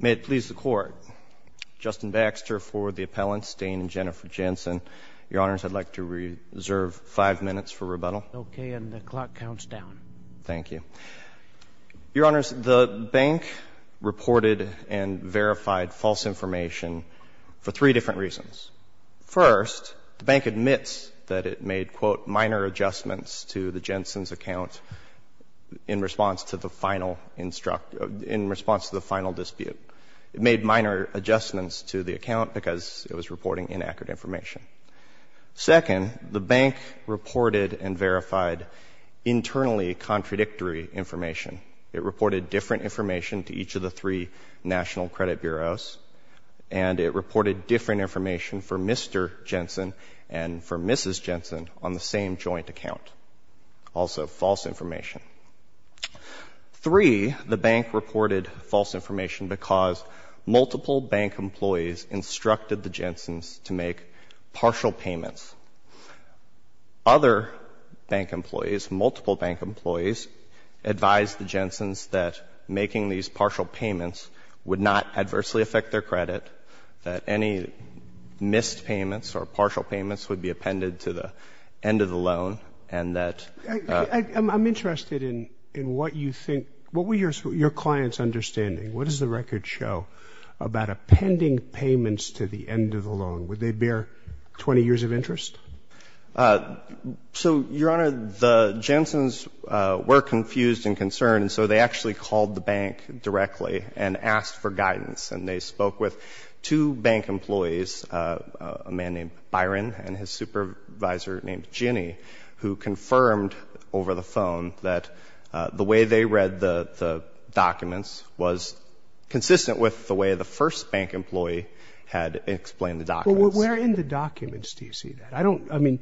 May it please the Court, Justin Baxter for the appellants, Dane and Jennifer Jensen. Your Honors, I'd like to reserve five minutes for rebuttal. Okay, and the clock counts down. Thank you. Your Honors, the bank reported and verified false information for three different reasons. First, the bank admits that it made, quote, minor adjustments to the Jensen's account in response to the final dispute. It made minor adjustments to the account because it was reporting inaccurate information. Second, the bank reported and verified internally contradictory information. It reported different information to each of the three national credit bureaus, and it reported different information for Mr. Jensen and for Mrs. Jensen on the same joint account, also false information. Three, the bank reported false information because multiple bank employees instructed the Jensen's to make partial payments. Other bank employees, multiple bank employees, advised the Jensen's that making these partial payments would not adversely affect their credit, that any missed payments or partial payments would be appended to the end of the loan, and that I'm interested in what you think, what were your clients understanding? What does the record show about appending payments to the end of the loan? Would they bear 20 years of interest? So, Your Honor, the Jensen's were confused and concerned, and so they actually called the bank directly and asked for guidance. And they spoke with two bank employees, a man named Byron and his supervisor named Jenny, who confirmed over the phone that the way they read the documents was consistent with the way the first bank employee had explained the documents. But where in the documents do you see that? I don't, I mean,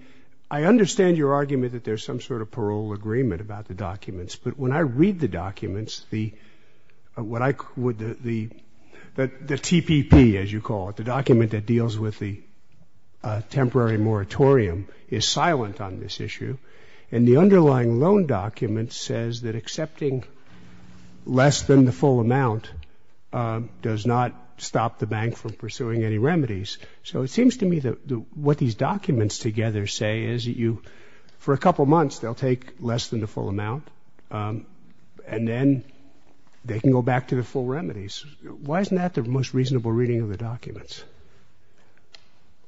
I understand your argument that there's some sort of parole agreement about the documents, but when I read the documents, the TPP, as you call it, the document that deals with the temporary moratorium, is silent on this issue. And the underlying loan document says that accepting less than the full amount does not stop the bank from pursuing any remedies. So it seems to me that what these documents together say is that you, for a couple months, they'll take less than the full amount, and then they can go back to the full remedies. Why isn't that the most reasonable reading of the documents?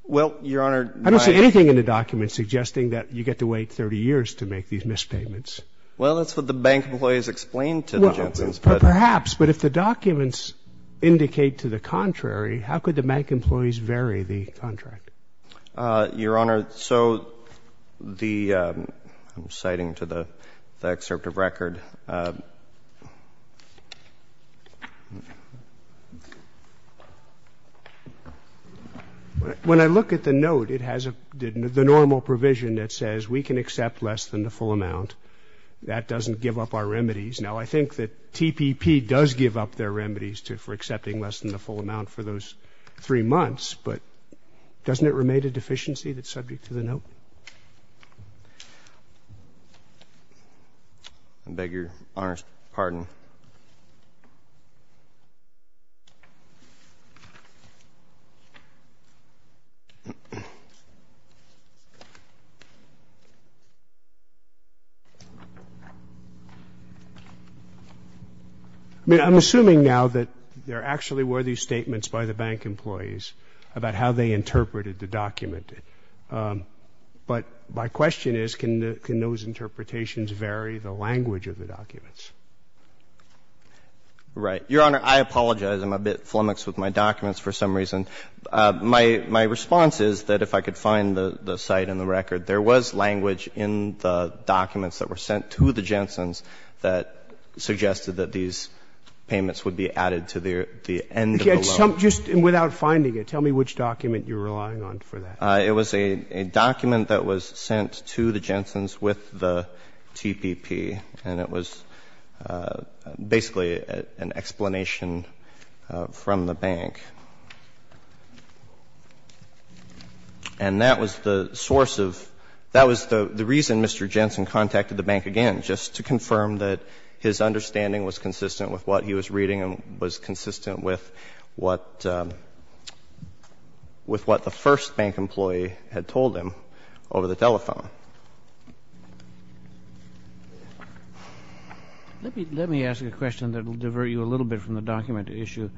Well, Your Honor. I don't see anything in the documents suggesting that you get to wait 30 years to make these missed payments. Well, that's what the bank employees explained to the Jensen's. Perhaps, but if the documents indicate to the contrary, how could the bank employees vary the contract? Your Honor, so the, I'm citing to the excerpt of record. When I look at the note, it has the normal provision that says we can accept less than the full amount. That doesn't give up our remedies. Now, I think that TPP does give up their remedies for accepting less than the full amount for those three months, but doesn't it remain a deficiency that's subject to the note? I beg Your Honor's pardon. I mean, I'm assuming now that there actually were these statements by the bank employees about how they interpreted the document, but my question is, can those interpretations vary the language of the documents? Right. Your Honor, I apologize. I'm a bit flummoxed with my documents for some reason. My response is that if I could find the site and the record, there was language in the documents that were sent to the Jensen's that suggested that these payments would be added to the end of the loan. Just without finding it, tell me which document you're relying on for that. It was a document that was sent to the Jensen's with the TPP, and it was basically an explanation from the bank. And that was the source of the reason Mr. Jensen contacted the bank again, just to confirm that his understanding was consistent with what he was reading and was consistent with what the first bank employee had told him over the telephone. Let me ask a question that will divert you a little bit from the document issue.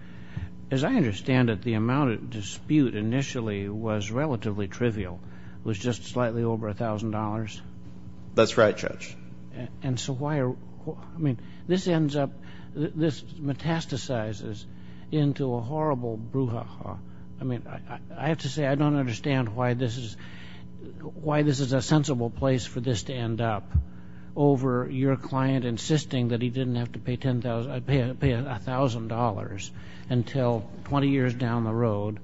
As I understand it, the amount at dispute initially was relatively trivial. It was just slightly over $1,000. That's right, Judge. I mean, this ends up, this metastasizes into a horrible brouhaha. I mean, I have to say I don't understand why this is a sensible place for this to end up, over your client insisting that he didn't have to pay $1,000 until 20 years down the road.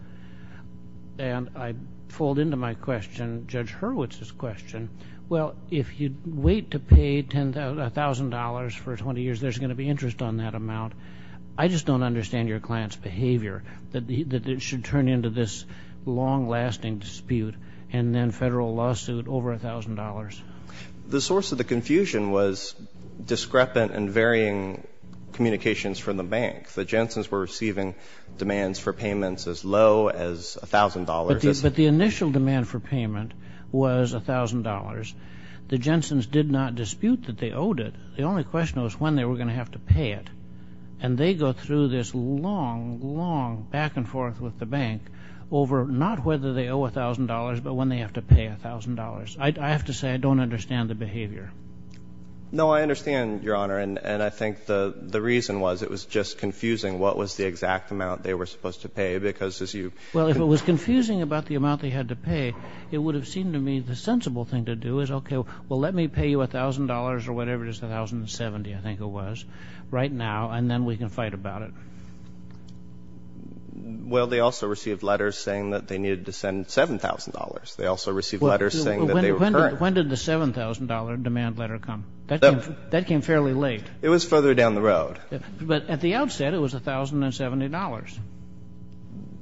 And I fold into my question Judge Hurwitz's question. Well, if you wait to pay $1,000 for 20 years, there's going to be interest on that amount. I just don't understand your client's behavior that it should turn into this long-lasting dispute and then federal lawsuit over $1,000. The source of the confusion was discrepant and varying communications from the bank. The Jensen's were receiving demands for payments as low as $1,000. But the initial demand for payment was $1,000. The Jensen's did not dispute that they owed it. The only question was when they were going to have to pay it. And they go through this long, long back and forth with the bank over not whether they owe $1,000 but when they have to pay $1,000. I have to say I don't understand the behavior. No, I understand, Your Honor. And I think the reason was it was just confusing what was the exact amount they were supposed to pay because as you ---- Well, if it was confusing about the amount they had to pay, it would have seemed to me the sensible thing to do is, okay, well, let me pay you $1,000 or whatever it is, $1,070, I think it was, right now, and then we can fight about it. Well, they also received letters saying that they needed to send $7,000. They also received letters saying that they were current. When did the $7,000 demand letter come? That came fairly late. It was further down the road. But at the outset, it was $1,070.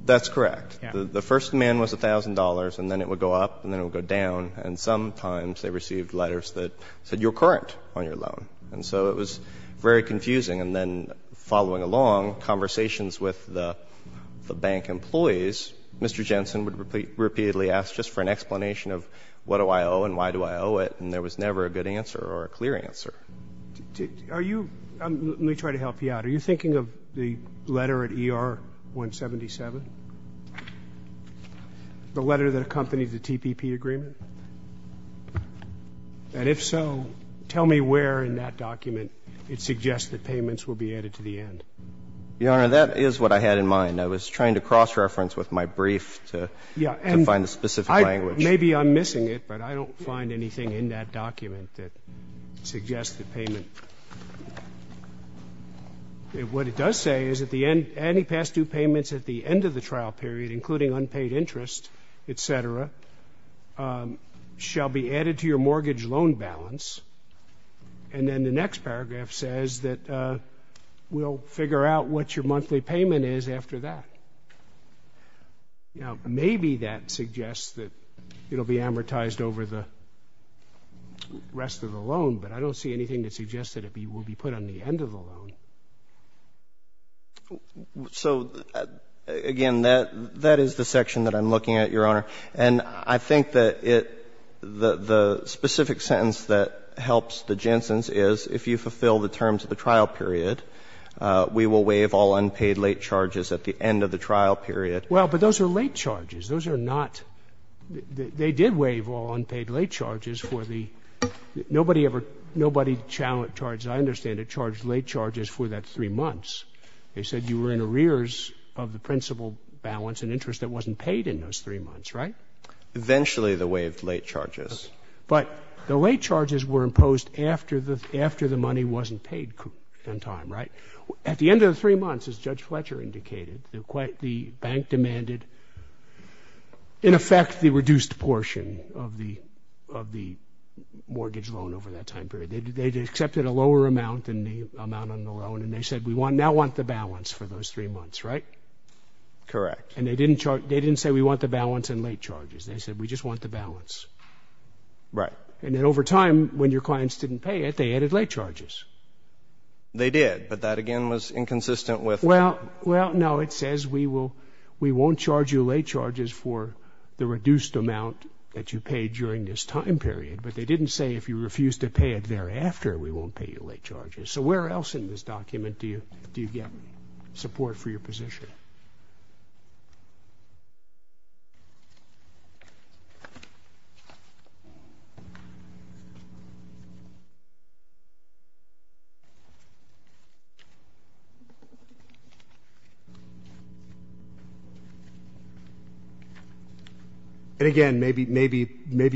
That's correct. The first demand was $1,000 and then it would go up and then it would go down, and sometimes they received letters that said you're current on your loan. And so it was very confusing. And then following along conversations with the bank employees, Mr. Jensen would repeatedly ask just for an explanation of what do I owe and why do I owe it, and there was never a good answer or a clear answer. Are you ---- let me try to help you out. Are you thinking of the letter at ER-177? The letter that accompanies the TPP agreement? And if so, tell me where in that document it suggests that payments will be added to the end. Your Honor, that is what I had in mind. I was trying to cross-reference with my brief to find the specific language. Maybe I'm missing it, but I don't find anything in that document that suggests the payment. What it does say is at the end, any past due payments at the end of the trial period, including unpaid interest, et cetera, shall be added to your mortgage loan balance. And then the next paragraph says that we'll figure out what your monthly payment is after that. Now, maybe that suggests that it will be amortized over the rest of the loan, but I don't see anything that suggests that it will be put on the end of the loan. So, again, that is the section that I'm looking at, Your Honor. And I think that it ---- the specific sentence that helps the Jensen's is if you fulfill the terms of the trial period, we will waive all unpaid late charges at the end of the trial period. Well, but those are late charges. Those are not ---- they did waive all unpaid late charges for the ---- nobody ever charged, as I understand it, charged late charges for that three months. They said you were in arrears of the principal balance and interest that wasn't paid in those three months, right? Eventually, they waived late charges. But the late charges were imposed after the money wasn't paid in time, right? At the end of the three months, as Judge Fletcher indicated, the bank demanded a lower amount than the amount on the loan, and they said we now want the balance for those three months, right? Correct. And they didn't say we want the balance in late charges. They said we just want the balance. Right. And then over time, when your clients didn't pay it, they added late charges. They did, but that, again, was inconsistent with ---- Well, no. It says we won't charge you late charges for the reduced amount that you paid during this time period. But they didn't say if you refused to pay it thereafter, we won't pay you late charges. So where else in this document do you get support for your position? And, again, maybe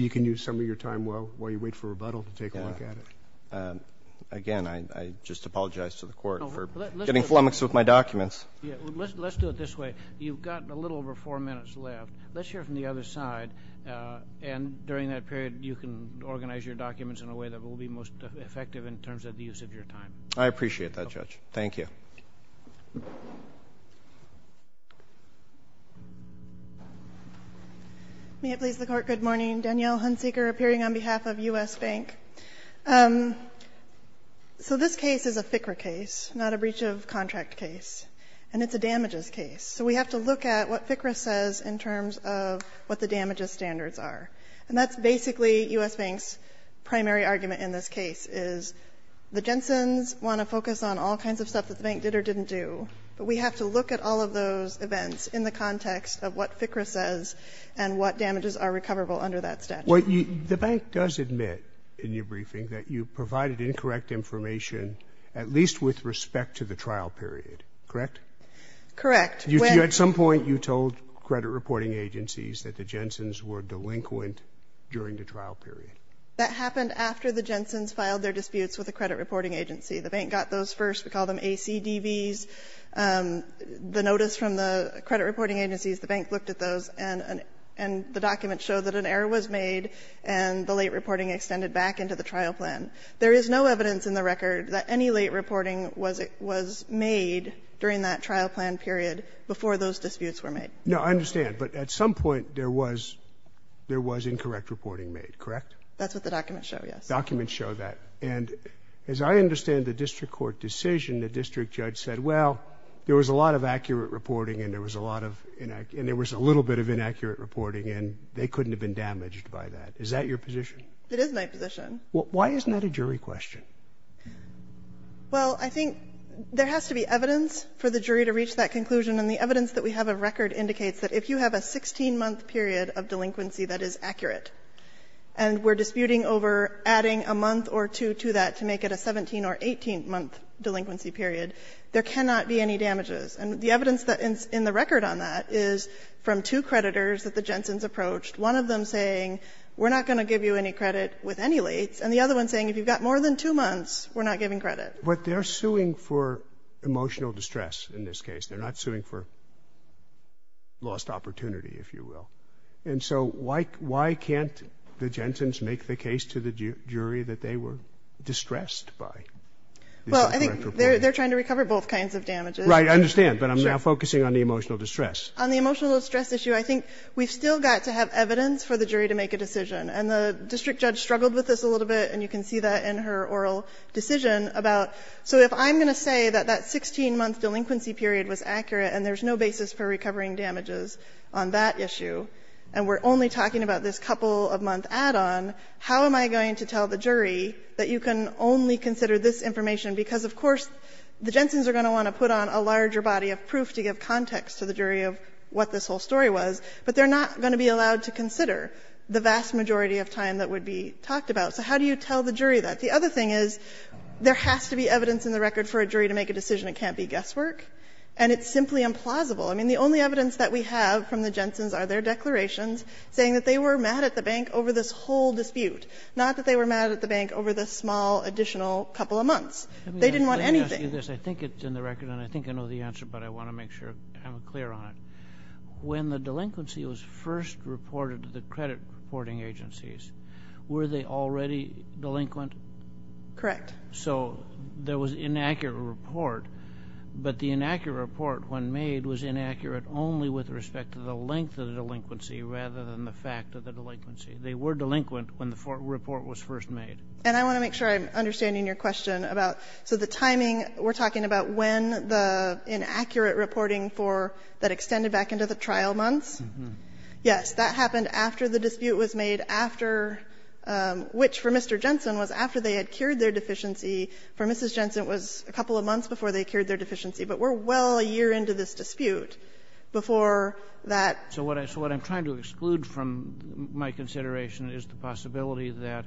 you can use some of your time while you wait for rebuttal to take a look at it. Again, I just apologize to the Court for getting flummoxed with my documents. Yes. Let's do it this way. You've got a little over four minutes left. Let's hear it from the other side. And during that period, you can organize your documents in a way that will be most effective in terms of the use of your time. I appreciate that, Judge. Thank you. May it please the Court, good morning. Danielle Hunsaker, appearing on behalf of U.S. Bank. So this case is a FCRA case, not a breach of contract case. And it's a damages case. So we have to look at what FCRA says in terms of what the damages standards are. And that's basically U.S. Bank's primary argument in this case, is the Jensen's want to focus on all kinds of stuff that the bank did or didn't do. But we have to look at all of those events in the context of what FCRA says and what damages are recoverable under that statute. Well, the bank does admit in your briefing that you provided incorrect information at least with respect to the trial period, correct? Correct. When? At some point, you told credit reporting agencies that the Jensen's were delinquent during the trial period. That happened after the Jensen's filed their disputes with the credit reporting agency. The bank got those first. We call them ACDVs. The notice from the credit reporting agencies, the bank looked at those, and the documents show that an error was made and the late reporting extended back into the trial plan. There is no evidence in the record that any late reporting was made during that trial plan period before those disputes were made. No, I understand. But at some point, there was incorrect reporting made, correct? That's what the documents show, yes. Documents show that. And as I understand the district court decision, the district judge said, well, there was a lot of accurate reporting and there was a lot of — and there was a little bit of inaccurate reporting, and they couldn't have been damaged by that. Is that your position? It is my position. Why isn't that a jury question? Well, I think there has to be evidence for the jury to reach that conclusion. And the evidence that we have of record indicates that if you have a 16-month period of delinquency that is accurate, and we're disputing over adding a month or two to that to make it a 17- or 18-month delinquency period, there cannot be any damages. And the evidence in the record on that is from two creditors that the Jensen's approached, one of them saying, we're not going to give you any credit with any late, and the other one saying, if you've got more than two months, we're not giving credit. But they're suing for emotional distress in this case. They're not suing for lost opportunity, if you will. And so why can't the Jensen's make the case to the jury that they were distressed by this incorrect reporting? Well, I think they're trying to recover both kinds of damages. Roberts. But I'm now focusing on the emotional distress. On the emotional distress issue, I think we've still got to have evidence for the jury to make a decision. And the district judge struggled with this a little bit, and you can see that in her oral decision about, so if I'm going to say that that 16-month delinquency period was accurate and there's no basis for recovering damages on that issue, and we're only talking about this couple-of-month add-on, how am I going to tell the jury that you can only consider this information? Because, of course, the Jensen's are going to want to put on a larger body of proof to give context to the jury of what this whole story was, but they're not going to be allowed to consider the vast majority of time that would be talked about. So how do you tell the jury that? The other thing is there has to be evidence in the record for a jury to make a decision. It can't be guesswork. And it's simply implausible. I mean, the only evidence that we have from the Jensen's are their declarations They didn't want anything. Let me ask you this. I think it's in the record, and I think I know the answer, but I want to make sure I'm clear on it. When the delinquency was first reported to the credit reporting agencies, were they already delinquent? Correct. So there was an inaccurate report, but the inaccurate report, when made, was inaccurate only with respect to the length of the delinquency rather than the fact of the delinquency. They were delinquent when the report was first made. And I want to make sure I'm understanding your question about, so the timing, we're talking about when the inaccurate reporting for that extended back into the trial months? Yes. That happened after the dispute was made, after, which for Mr. Jensen was after they had cured their deficiency. For Mrs. Jensen, it was a couple of months before they cured their deficiency. But we're well a year into this dispute before that. So what I'm trying to exclude from my consideration is the possibility that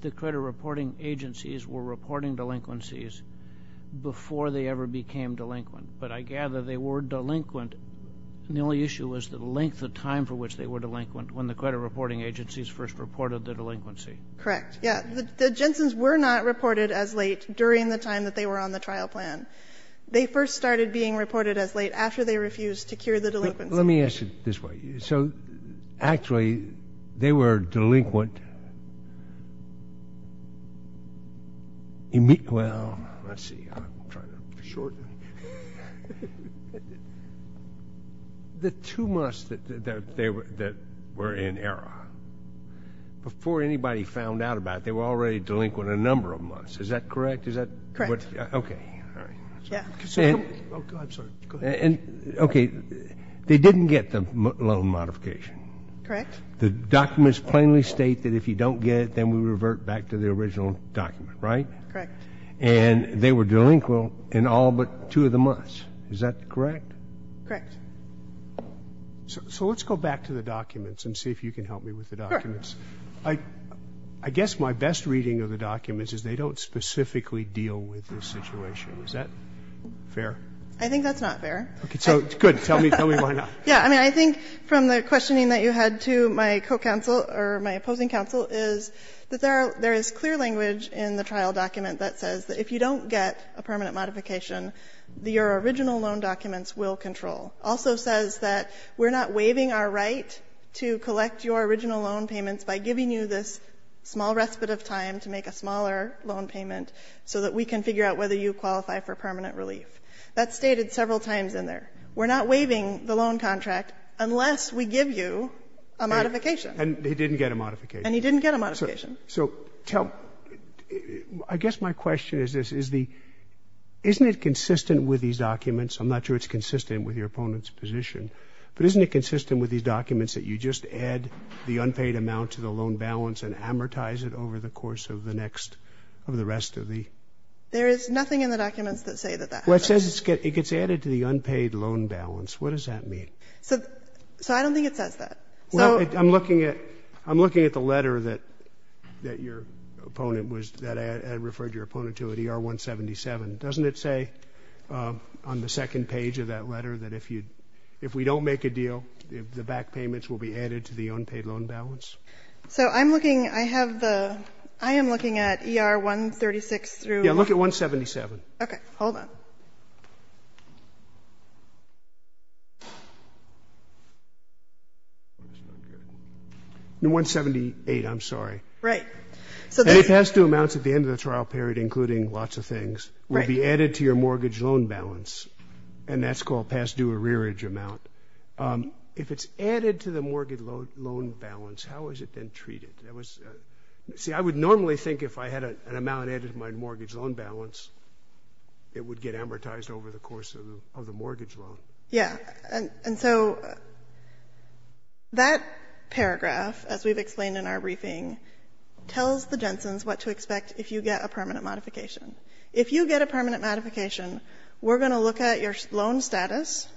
the credit reporting agencies were reporting delinquencies before they ever became delinquent. But I gather they were delinquent, and the only issue was the length of time for which they were delinquent when the credit reporting agencies first reported the delinquency. Correct. Yes. The Jensens were not reported as late during the time that they were on the trial plan. They first started being reported as late after they refused to cure the delinquency. Let me ask it this way. So actually, they were delinquent. Well, let's see. I'm trying to shorten. The two months that were in error, before anybody found out about it, they were already delinquent a number of months. Is that correct? Correct. Okay. All right. I'm sorry. Go ahead. Okay. They didn't get the loan modification. Correct. The documents plainly state that if you don't get it, then we revert back to the original document, right? Correct. And they were delinquent in all but two of the months. Is that correct? Correct. So let's go back to the documents and see if you can help me with the documents. Correct. I guess my best reading of the documents is they don't specifically deal with this situation. Is that fair? I think that's not fair. Okay. So good. Tell me why not. Yeah. I mean, I think from the questioning that you had to my co-counsel or my opposing counsel is that there is clear language in the trial document that says that if you don't get a permanent modification, your original loan documents will control. It also says that we're not waiving our right to collect your original loan payments by giving you this small respite of time to make a smaller loan payment so that we can figure out whether you qualify for permanent relief. That's stated several times in there. We're not waiving the loan contract unless we give you a modification. Right. And he didn't get a modification. And he didn't get a modification. So tell me, I guess my question is this. Isn't it consistent with these documents? I'm not sure it's consistent with your opponent's position, but isn't it consistent with these documents that you just add the unpaid amount to the loan balance and amortize it over the course of the next, over the rest of the? There is nothing in the documents that say that that happens. Well, it says it gets added to the unpaid loan balance. What does that mean? So I don't think it says that. Well, I'm looking at the letter that your opponent was, that I referred your opponent to at ER-177. Doesn't it say on the second page of that letter that if we don't make a deal, the back payments will be added to the unpaid loan balance? So I'm looking, I have the, I am looking at ER-136 through. Yeah, look at 177. Okay, hold on. No, 178, I'm sorry. Right. Any past due amounts at the end of the trial period, including lots of things, will be added to your mortgage loan balance, and that's called past due arrearage amount. If it's added to the mortgage loan balance, how is it then treated? See, I would normally think if I had an amount added to my mortgage loan balance, it would get amortized over the course of the mortgage loan. Yeah. And so that paragraph, as we've explained in our briefing, tells the Jensen's what to expect if you get a permanent modification. If you get a permanent modification, we're going to look at your loan status.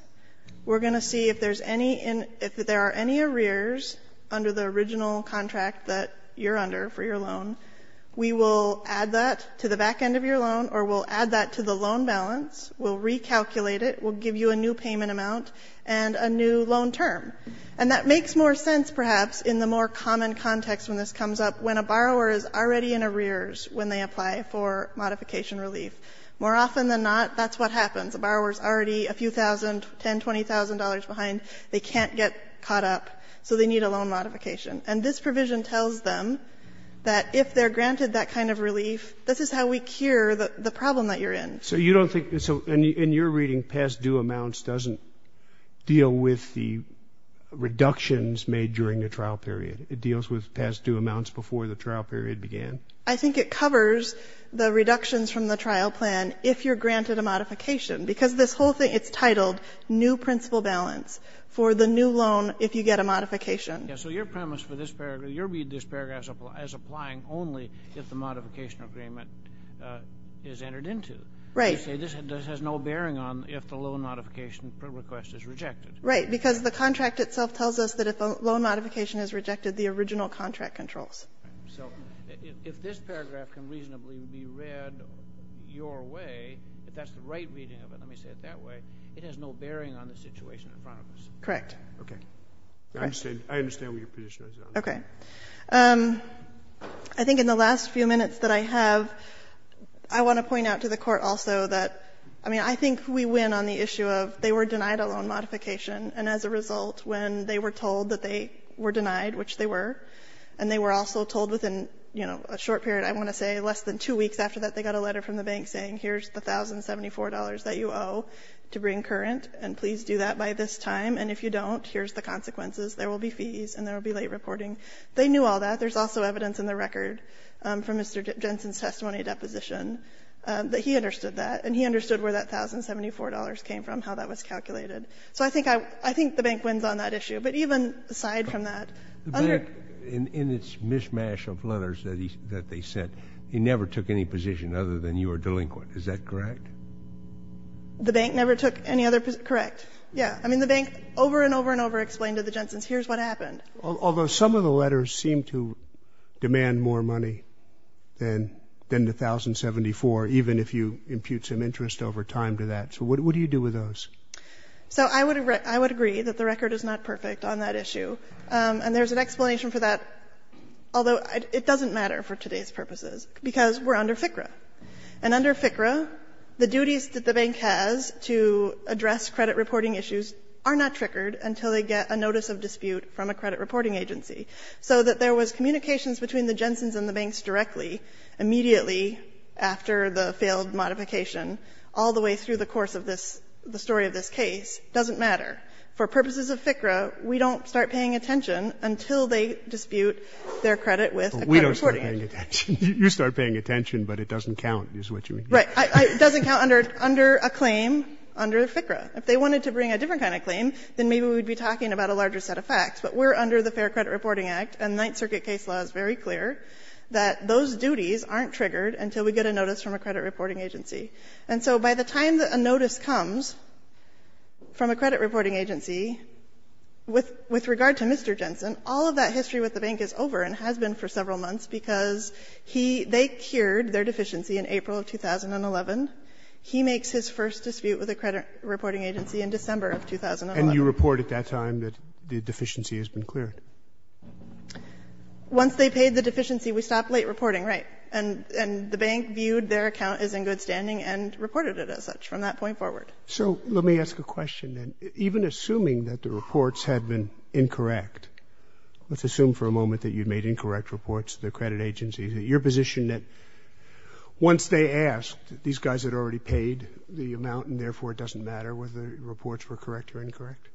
We're going to see if there's any, if there are any arrears under the original contract that you're under for your loan. We will add that to the back end of your loan, or we'll add that to the loan balance. We'll recalculate it. We'll give you a new payment amount and a new loan term. And that makes more sense, perhaps, in the more common context when this comes up, when a borrower is already in arrears when they apply for modification relief. More often than not, that's what happens. A borrower is already a few thousand, $10,000, $20,000 behind. They can't get caught up, so they need a loan modification. And this provision tells them that if they're granted that kind of relief, this is how we cure the problem that you're in. So you don't think, in your reading, past due amounts doesn't deal with the reductions made during the trial period. It deals with past due amounts before the trial period began? I think it covers the reductions from the trial plan if you're granted a modification. Because this whole thing, it's titled new principal balance for the new loan if you get a modification. Yes. So your premise for this paragraph, you read this paragraph as applying only if the modification agreement is entered into. Right. You say this has no bearing on if the loan modification request is rejected. Right. Because the contract itself tells us that if a loan modification is rejected, the original contract controls. So if this paragraph can reasonably be read your way, if that's the right reading of it, let me say it that way, it has no bearing on the situation in front of us. Correct. Okay. I understand what your position is on that. Okay. I think in the last few minutes that I have, I want to point out to the Court also that, I mean, I think we win on the issue of they were denied a loan modification and as a result when they were told that they were denied, which they were, and they were also told within, you know, a short period, I want to say less than two weeks after that they got a letter from the bank saying here's the $1,074 that you owe to bring current, and please do that by this time, and if you don't, here's the consequences. There will be fees and there will be late reporting. They knew all that. There's also evidence in the record from Mr. Jensen's testimony deposition that he understood that, and he understood where that $1,074 came from, how that was calculated. So I think I think the bank wins on that issue. But even aside from that, under the mismatch of letters that they sent, he never took any position other than you were delinquent. Is that correct? The bank never took any other position. Correct. Yeah. I mean, the bank over and over and over explained to the Jensen's, here's what happened. Although some of the letters seem to demand more money than the $1,074, even if you impute some interest over time to that. So what do you do with those? So I would agree that the record is not perfect on that issue. And there's an explanation for that, although it doesn't matter for today's purposes, because we're under FCRA. And under FCRA, the duties that the bank has to address credit reporting issues are not triggered until they get a notice of dispute from a credit reporting agency. So that there was communications between the Jensen's and the banks directly, immediately after the failed modification, all the way through the course of this the story of this case doesn't matter. For purposes of FCRA, we don't start paying attention until they dispute their credit with a credit reporting agency. We don't start paying attention. You start paying attention, but it doesn't count, is what you mean. Right. It doesn't count under a claim under FCRA. If they wanted to bring a different kind of claim, then maybe we would be talking about a larger set of facts. But we're under the Fair Credit Reporting Act, and Ninth Circuit case law is very clear that those duties aren't triggered until we get a notice from a credit reporting agency. And so by the time that a notice comes from a credit reporting agency, with regard to Mr. Jensen, all of that history with the bank is over and has been for several months because he they cured their deficiency in April of 2011. He makes his first dispute with a credit reporting agency in December of 2011. And you report at that time that the deficiency has been cleared. Once they paid the deficiency, we stopped late reporting, right. And the bank viewed their account as in good standing and reported it as such from that point forward. So let me ask a question then. Even assuming that the reports had been incorrect, let's assume for a moment that you made incorrect reports to the credit agency, is it your position that once they asked, these guys had already paid the amount, and therefore it doesn't matter whether the reports were correct or incorrect?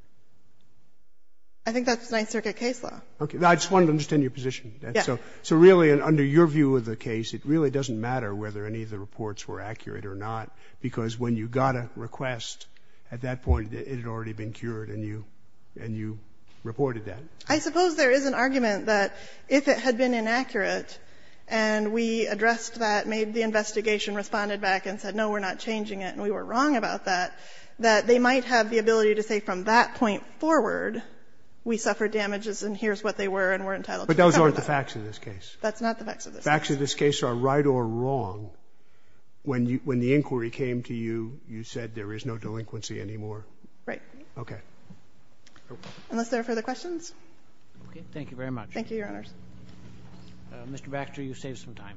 I think that's Ninth Circuit case law. Okay. Now, I just want to understand your position. Yeah. So really, under your view of the case, it really doesn't matter whether any of the reports were accurate or not, because when you got a request at that point, it had already been cured and you reported that. I suppose there is an argument that if it had been inaccurate and we addressed that, made the investigation, responded back and said, no, we're not changing it and we were wrong about that, that they might have the ability to say from that point forward we suffered damages and here's what they were and we're entitled to cover that. But those aren't the facts of this case. That's not the facts of this case. The facts of this case are right or wrong. When the inquiry came to you, you said there is no delinquency anymore. Right. Okay. Unless there are further questions. Okay. Thank you very much. Thank you, Your Honors. Mr. Baxter, you saved some time.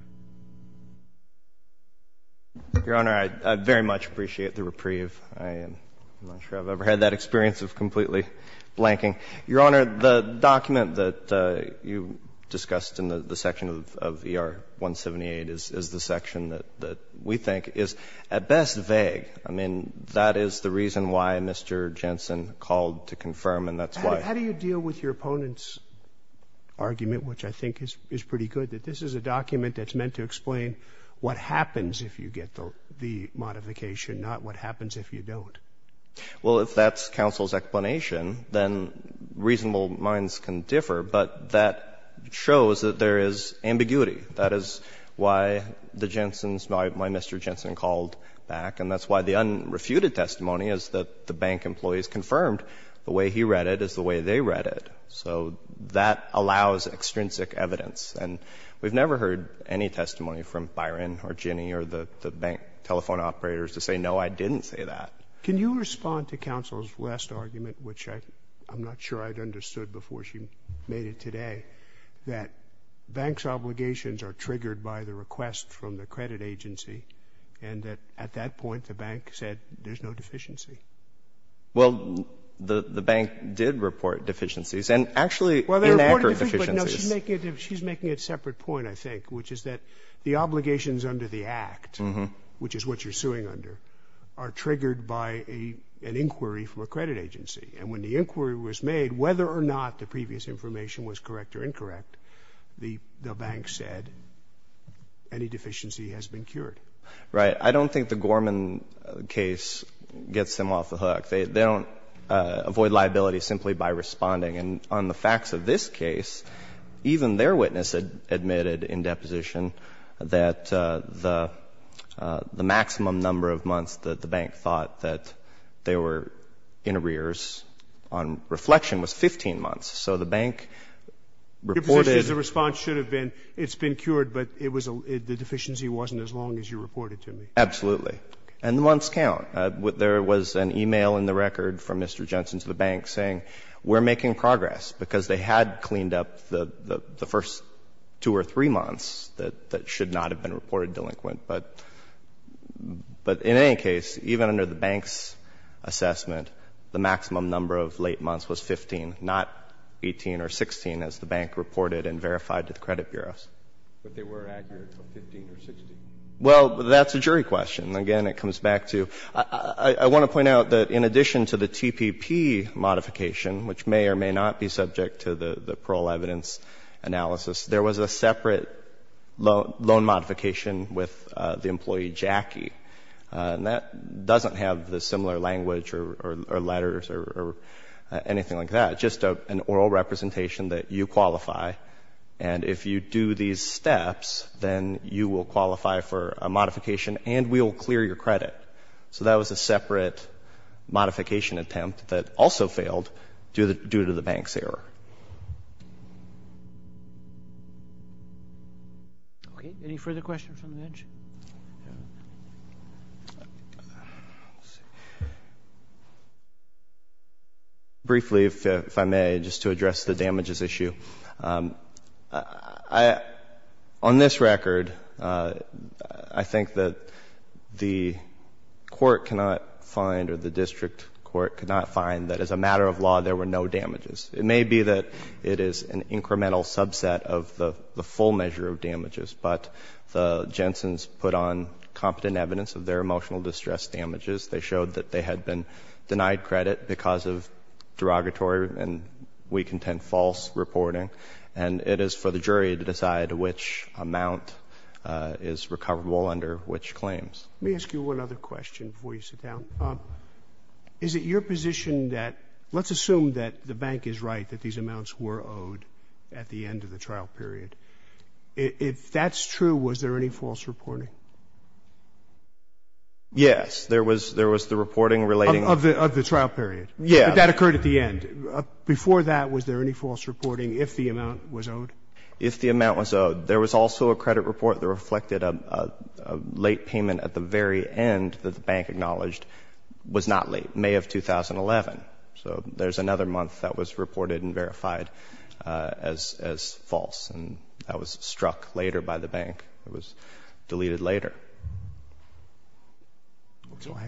Your Honor, I very much appreciate the reprieve. I'm not sure I've ever had that experience of completely blanking. Your Honor, the document that you discussed in the section of ER-178 is the section that we think is at best vague. I mean, that is the reason why Mr. Jensen called to confirm, and that's why. How do you deal with your opponent's argument, which I think is pretty good, that this is a document that's meant to explain what happens if you get the modification, not what happens if you don't? Well, if that's counsel's explanation, then reasonable minds can differ. But that shows that there is ambiguity. That is why the Jensen's my Mr. Jensen called back, and that's why the unrefuted testimony is that the bank employees confirmed the way he read it is the way they read it, so that allows extrinsic evidence. And we've never heard any testimony from Byron or Ginni or the bank telephone operators to say, no, I didn't say that. Can you respond to counsel's last argument, which I'm not sure I'd understood before she made it today, that banks' obligations are triggered by the request from the credit agency, and that at that point the bank said there's no deficiency? Well, the bank did report deficiencies, and actually inaccurate deficiencies. Well, she's making a separate point, I think, which is that the obligations under the act, which is what you're suing under, are triggered by an inquiry from a credit agency, and when the inquiry was made, whether or not the previous information was correct or incorrect, the bank said any deficiency has been cured. Right. I don't think the Gorman case gets them off the hook. They don't avoid liability simply by responding, and on the facts of this case, even their witness admitted in deposition that the maximum number of months that the bank thought that they were in arrears on reflection was 15 months. So the bank reported the deficiency. Your position is the response should have been, it's been cured, but it was the deficiency wasn't as long as you reported to me. Absolutely. And the months count. There was an e-mail in the record from Mr. Jensen to the bank saying, we're making progress, because they had cleaned up the first two or three months that should not have been reported delinquent. But in any case, even under the bank's assessment, the maximum number of late months was 15, not 18 or 16, as the bank reported and verified to the credit bureaus. But they were accurate of 15 or 16. Well, that's a jury question. Again, it comes back to you. I want to point out that in addition to the TPP modification, which may or may not be subject to the parole evidence analysis, there was a separate loan modification with the employee Jackie. And that doesn't have the similar language or letters or anything like that, just an oral representation that you qualify. And if you do these steps, then you will qualify for a modification and we will clear your credit. So that was a separate modification attempt that also failed due to the bank's error. Okay. Any further questions on the bench? Briefly, if I may, just to address the damages issue. On this record, I think that the court cannot find or the district court cannot find that as a matter of law there were no damages. It may be that it is an incremental subset of the full measure of damages, but the Jensen's put on competent evidence of their emotional distress damages. They showed that they had been denied credit because of derogatory and, we contend, false reporting. And it is for the jury to decide which amount is recoverable under which claims. Let me ask you one other question before you sit down. Is it your position that let's assume that the bank is right, that these amounts were owed at the end of the trial period. If that's true, was there any false reporting? Yes. There was the reporting relating to the trial period. Yes. That occurred at the end. Before that, was there any false reporting if the amount was owed? If the amount was owed. There was also a credit report that reflected a late payment at the very end that the bank acknowledged was not late, May of 2011. So there's another month that was reported and verified as false. And that was struck later by the bank. It was deleted later.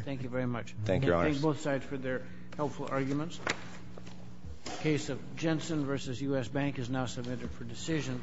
Thank you very much. Thank you, Your Honor. I thank both sides for their helpful arguments. The case of Jensen v. U.S. Bank is now submitted for decision.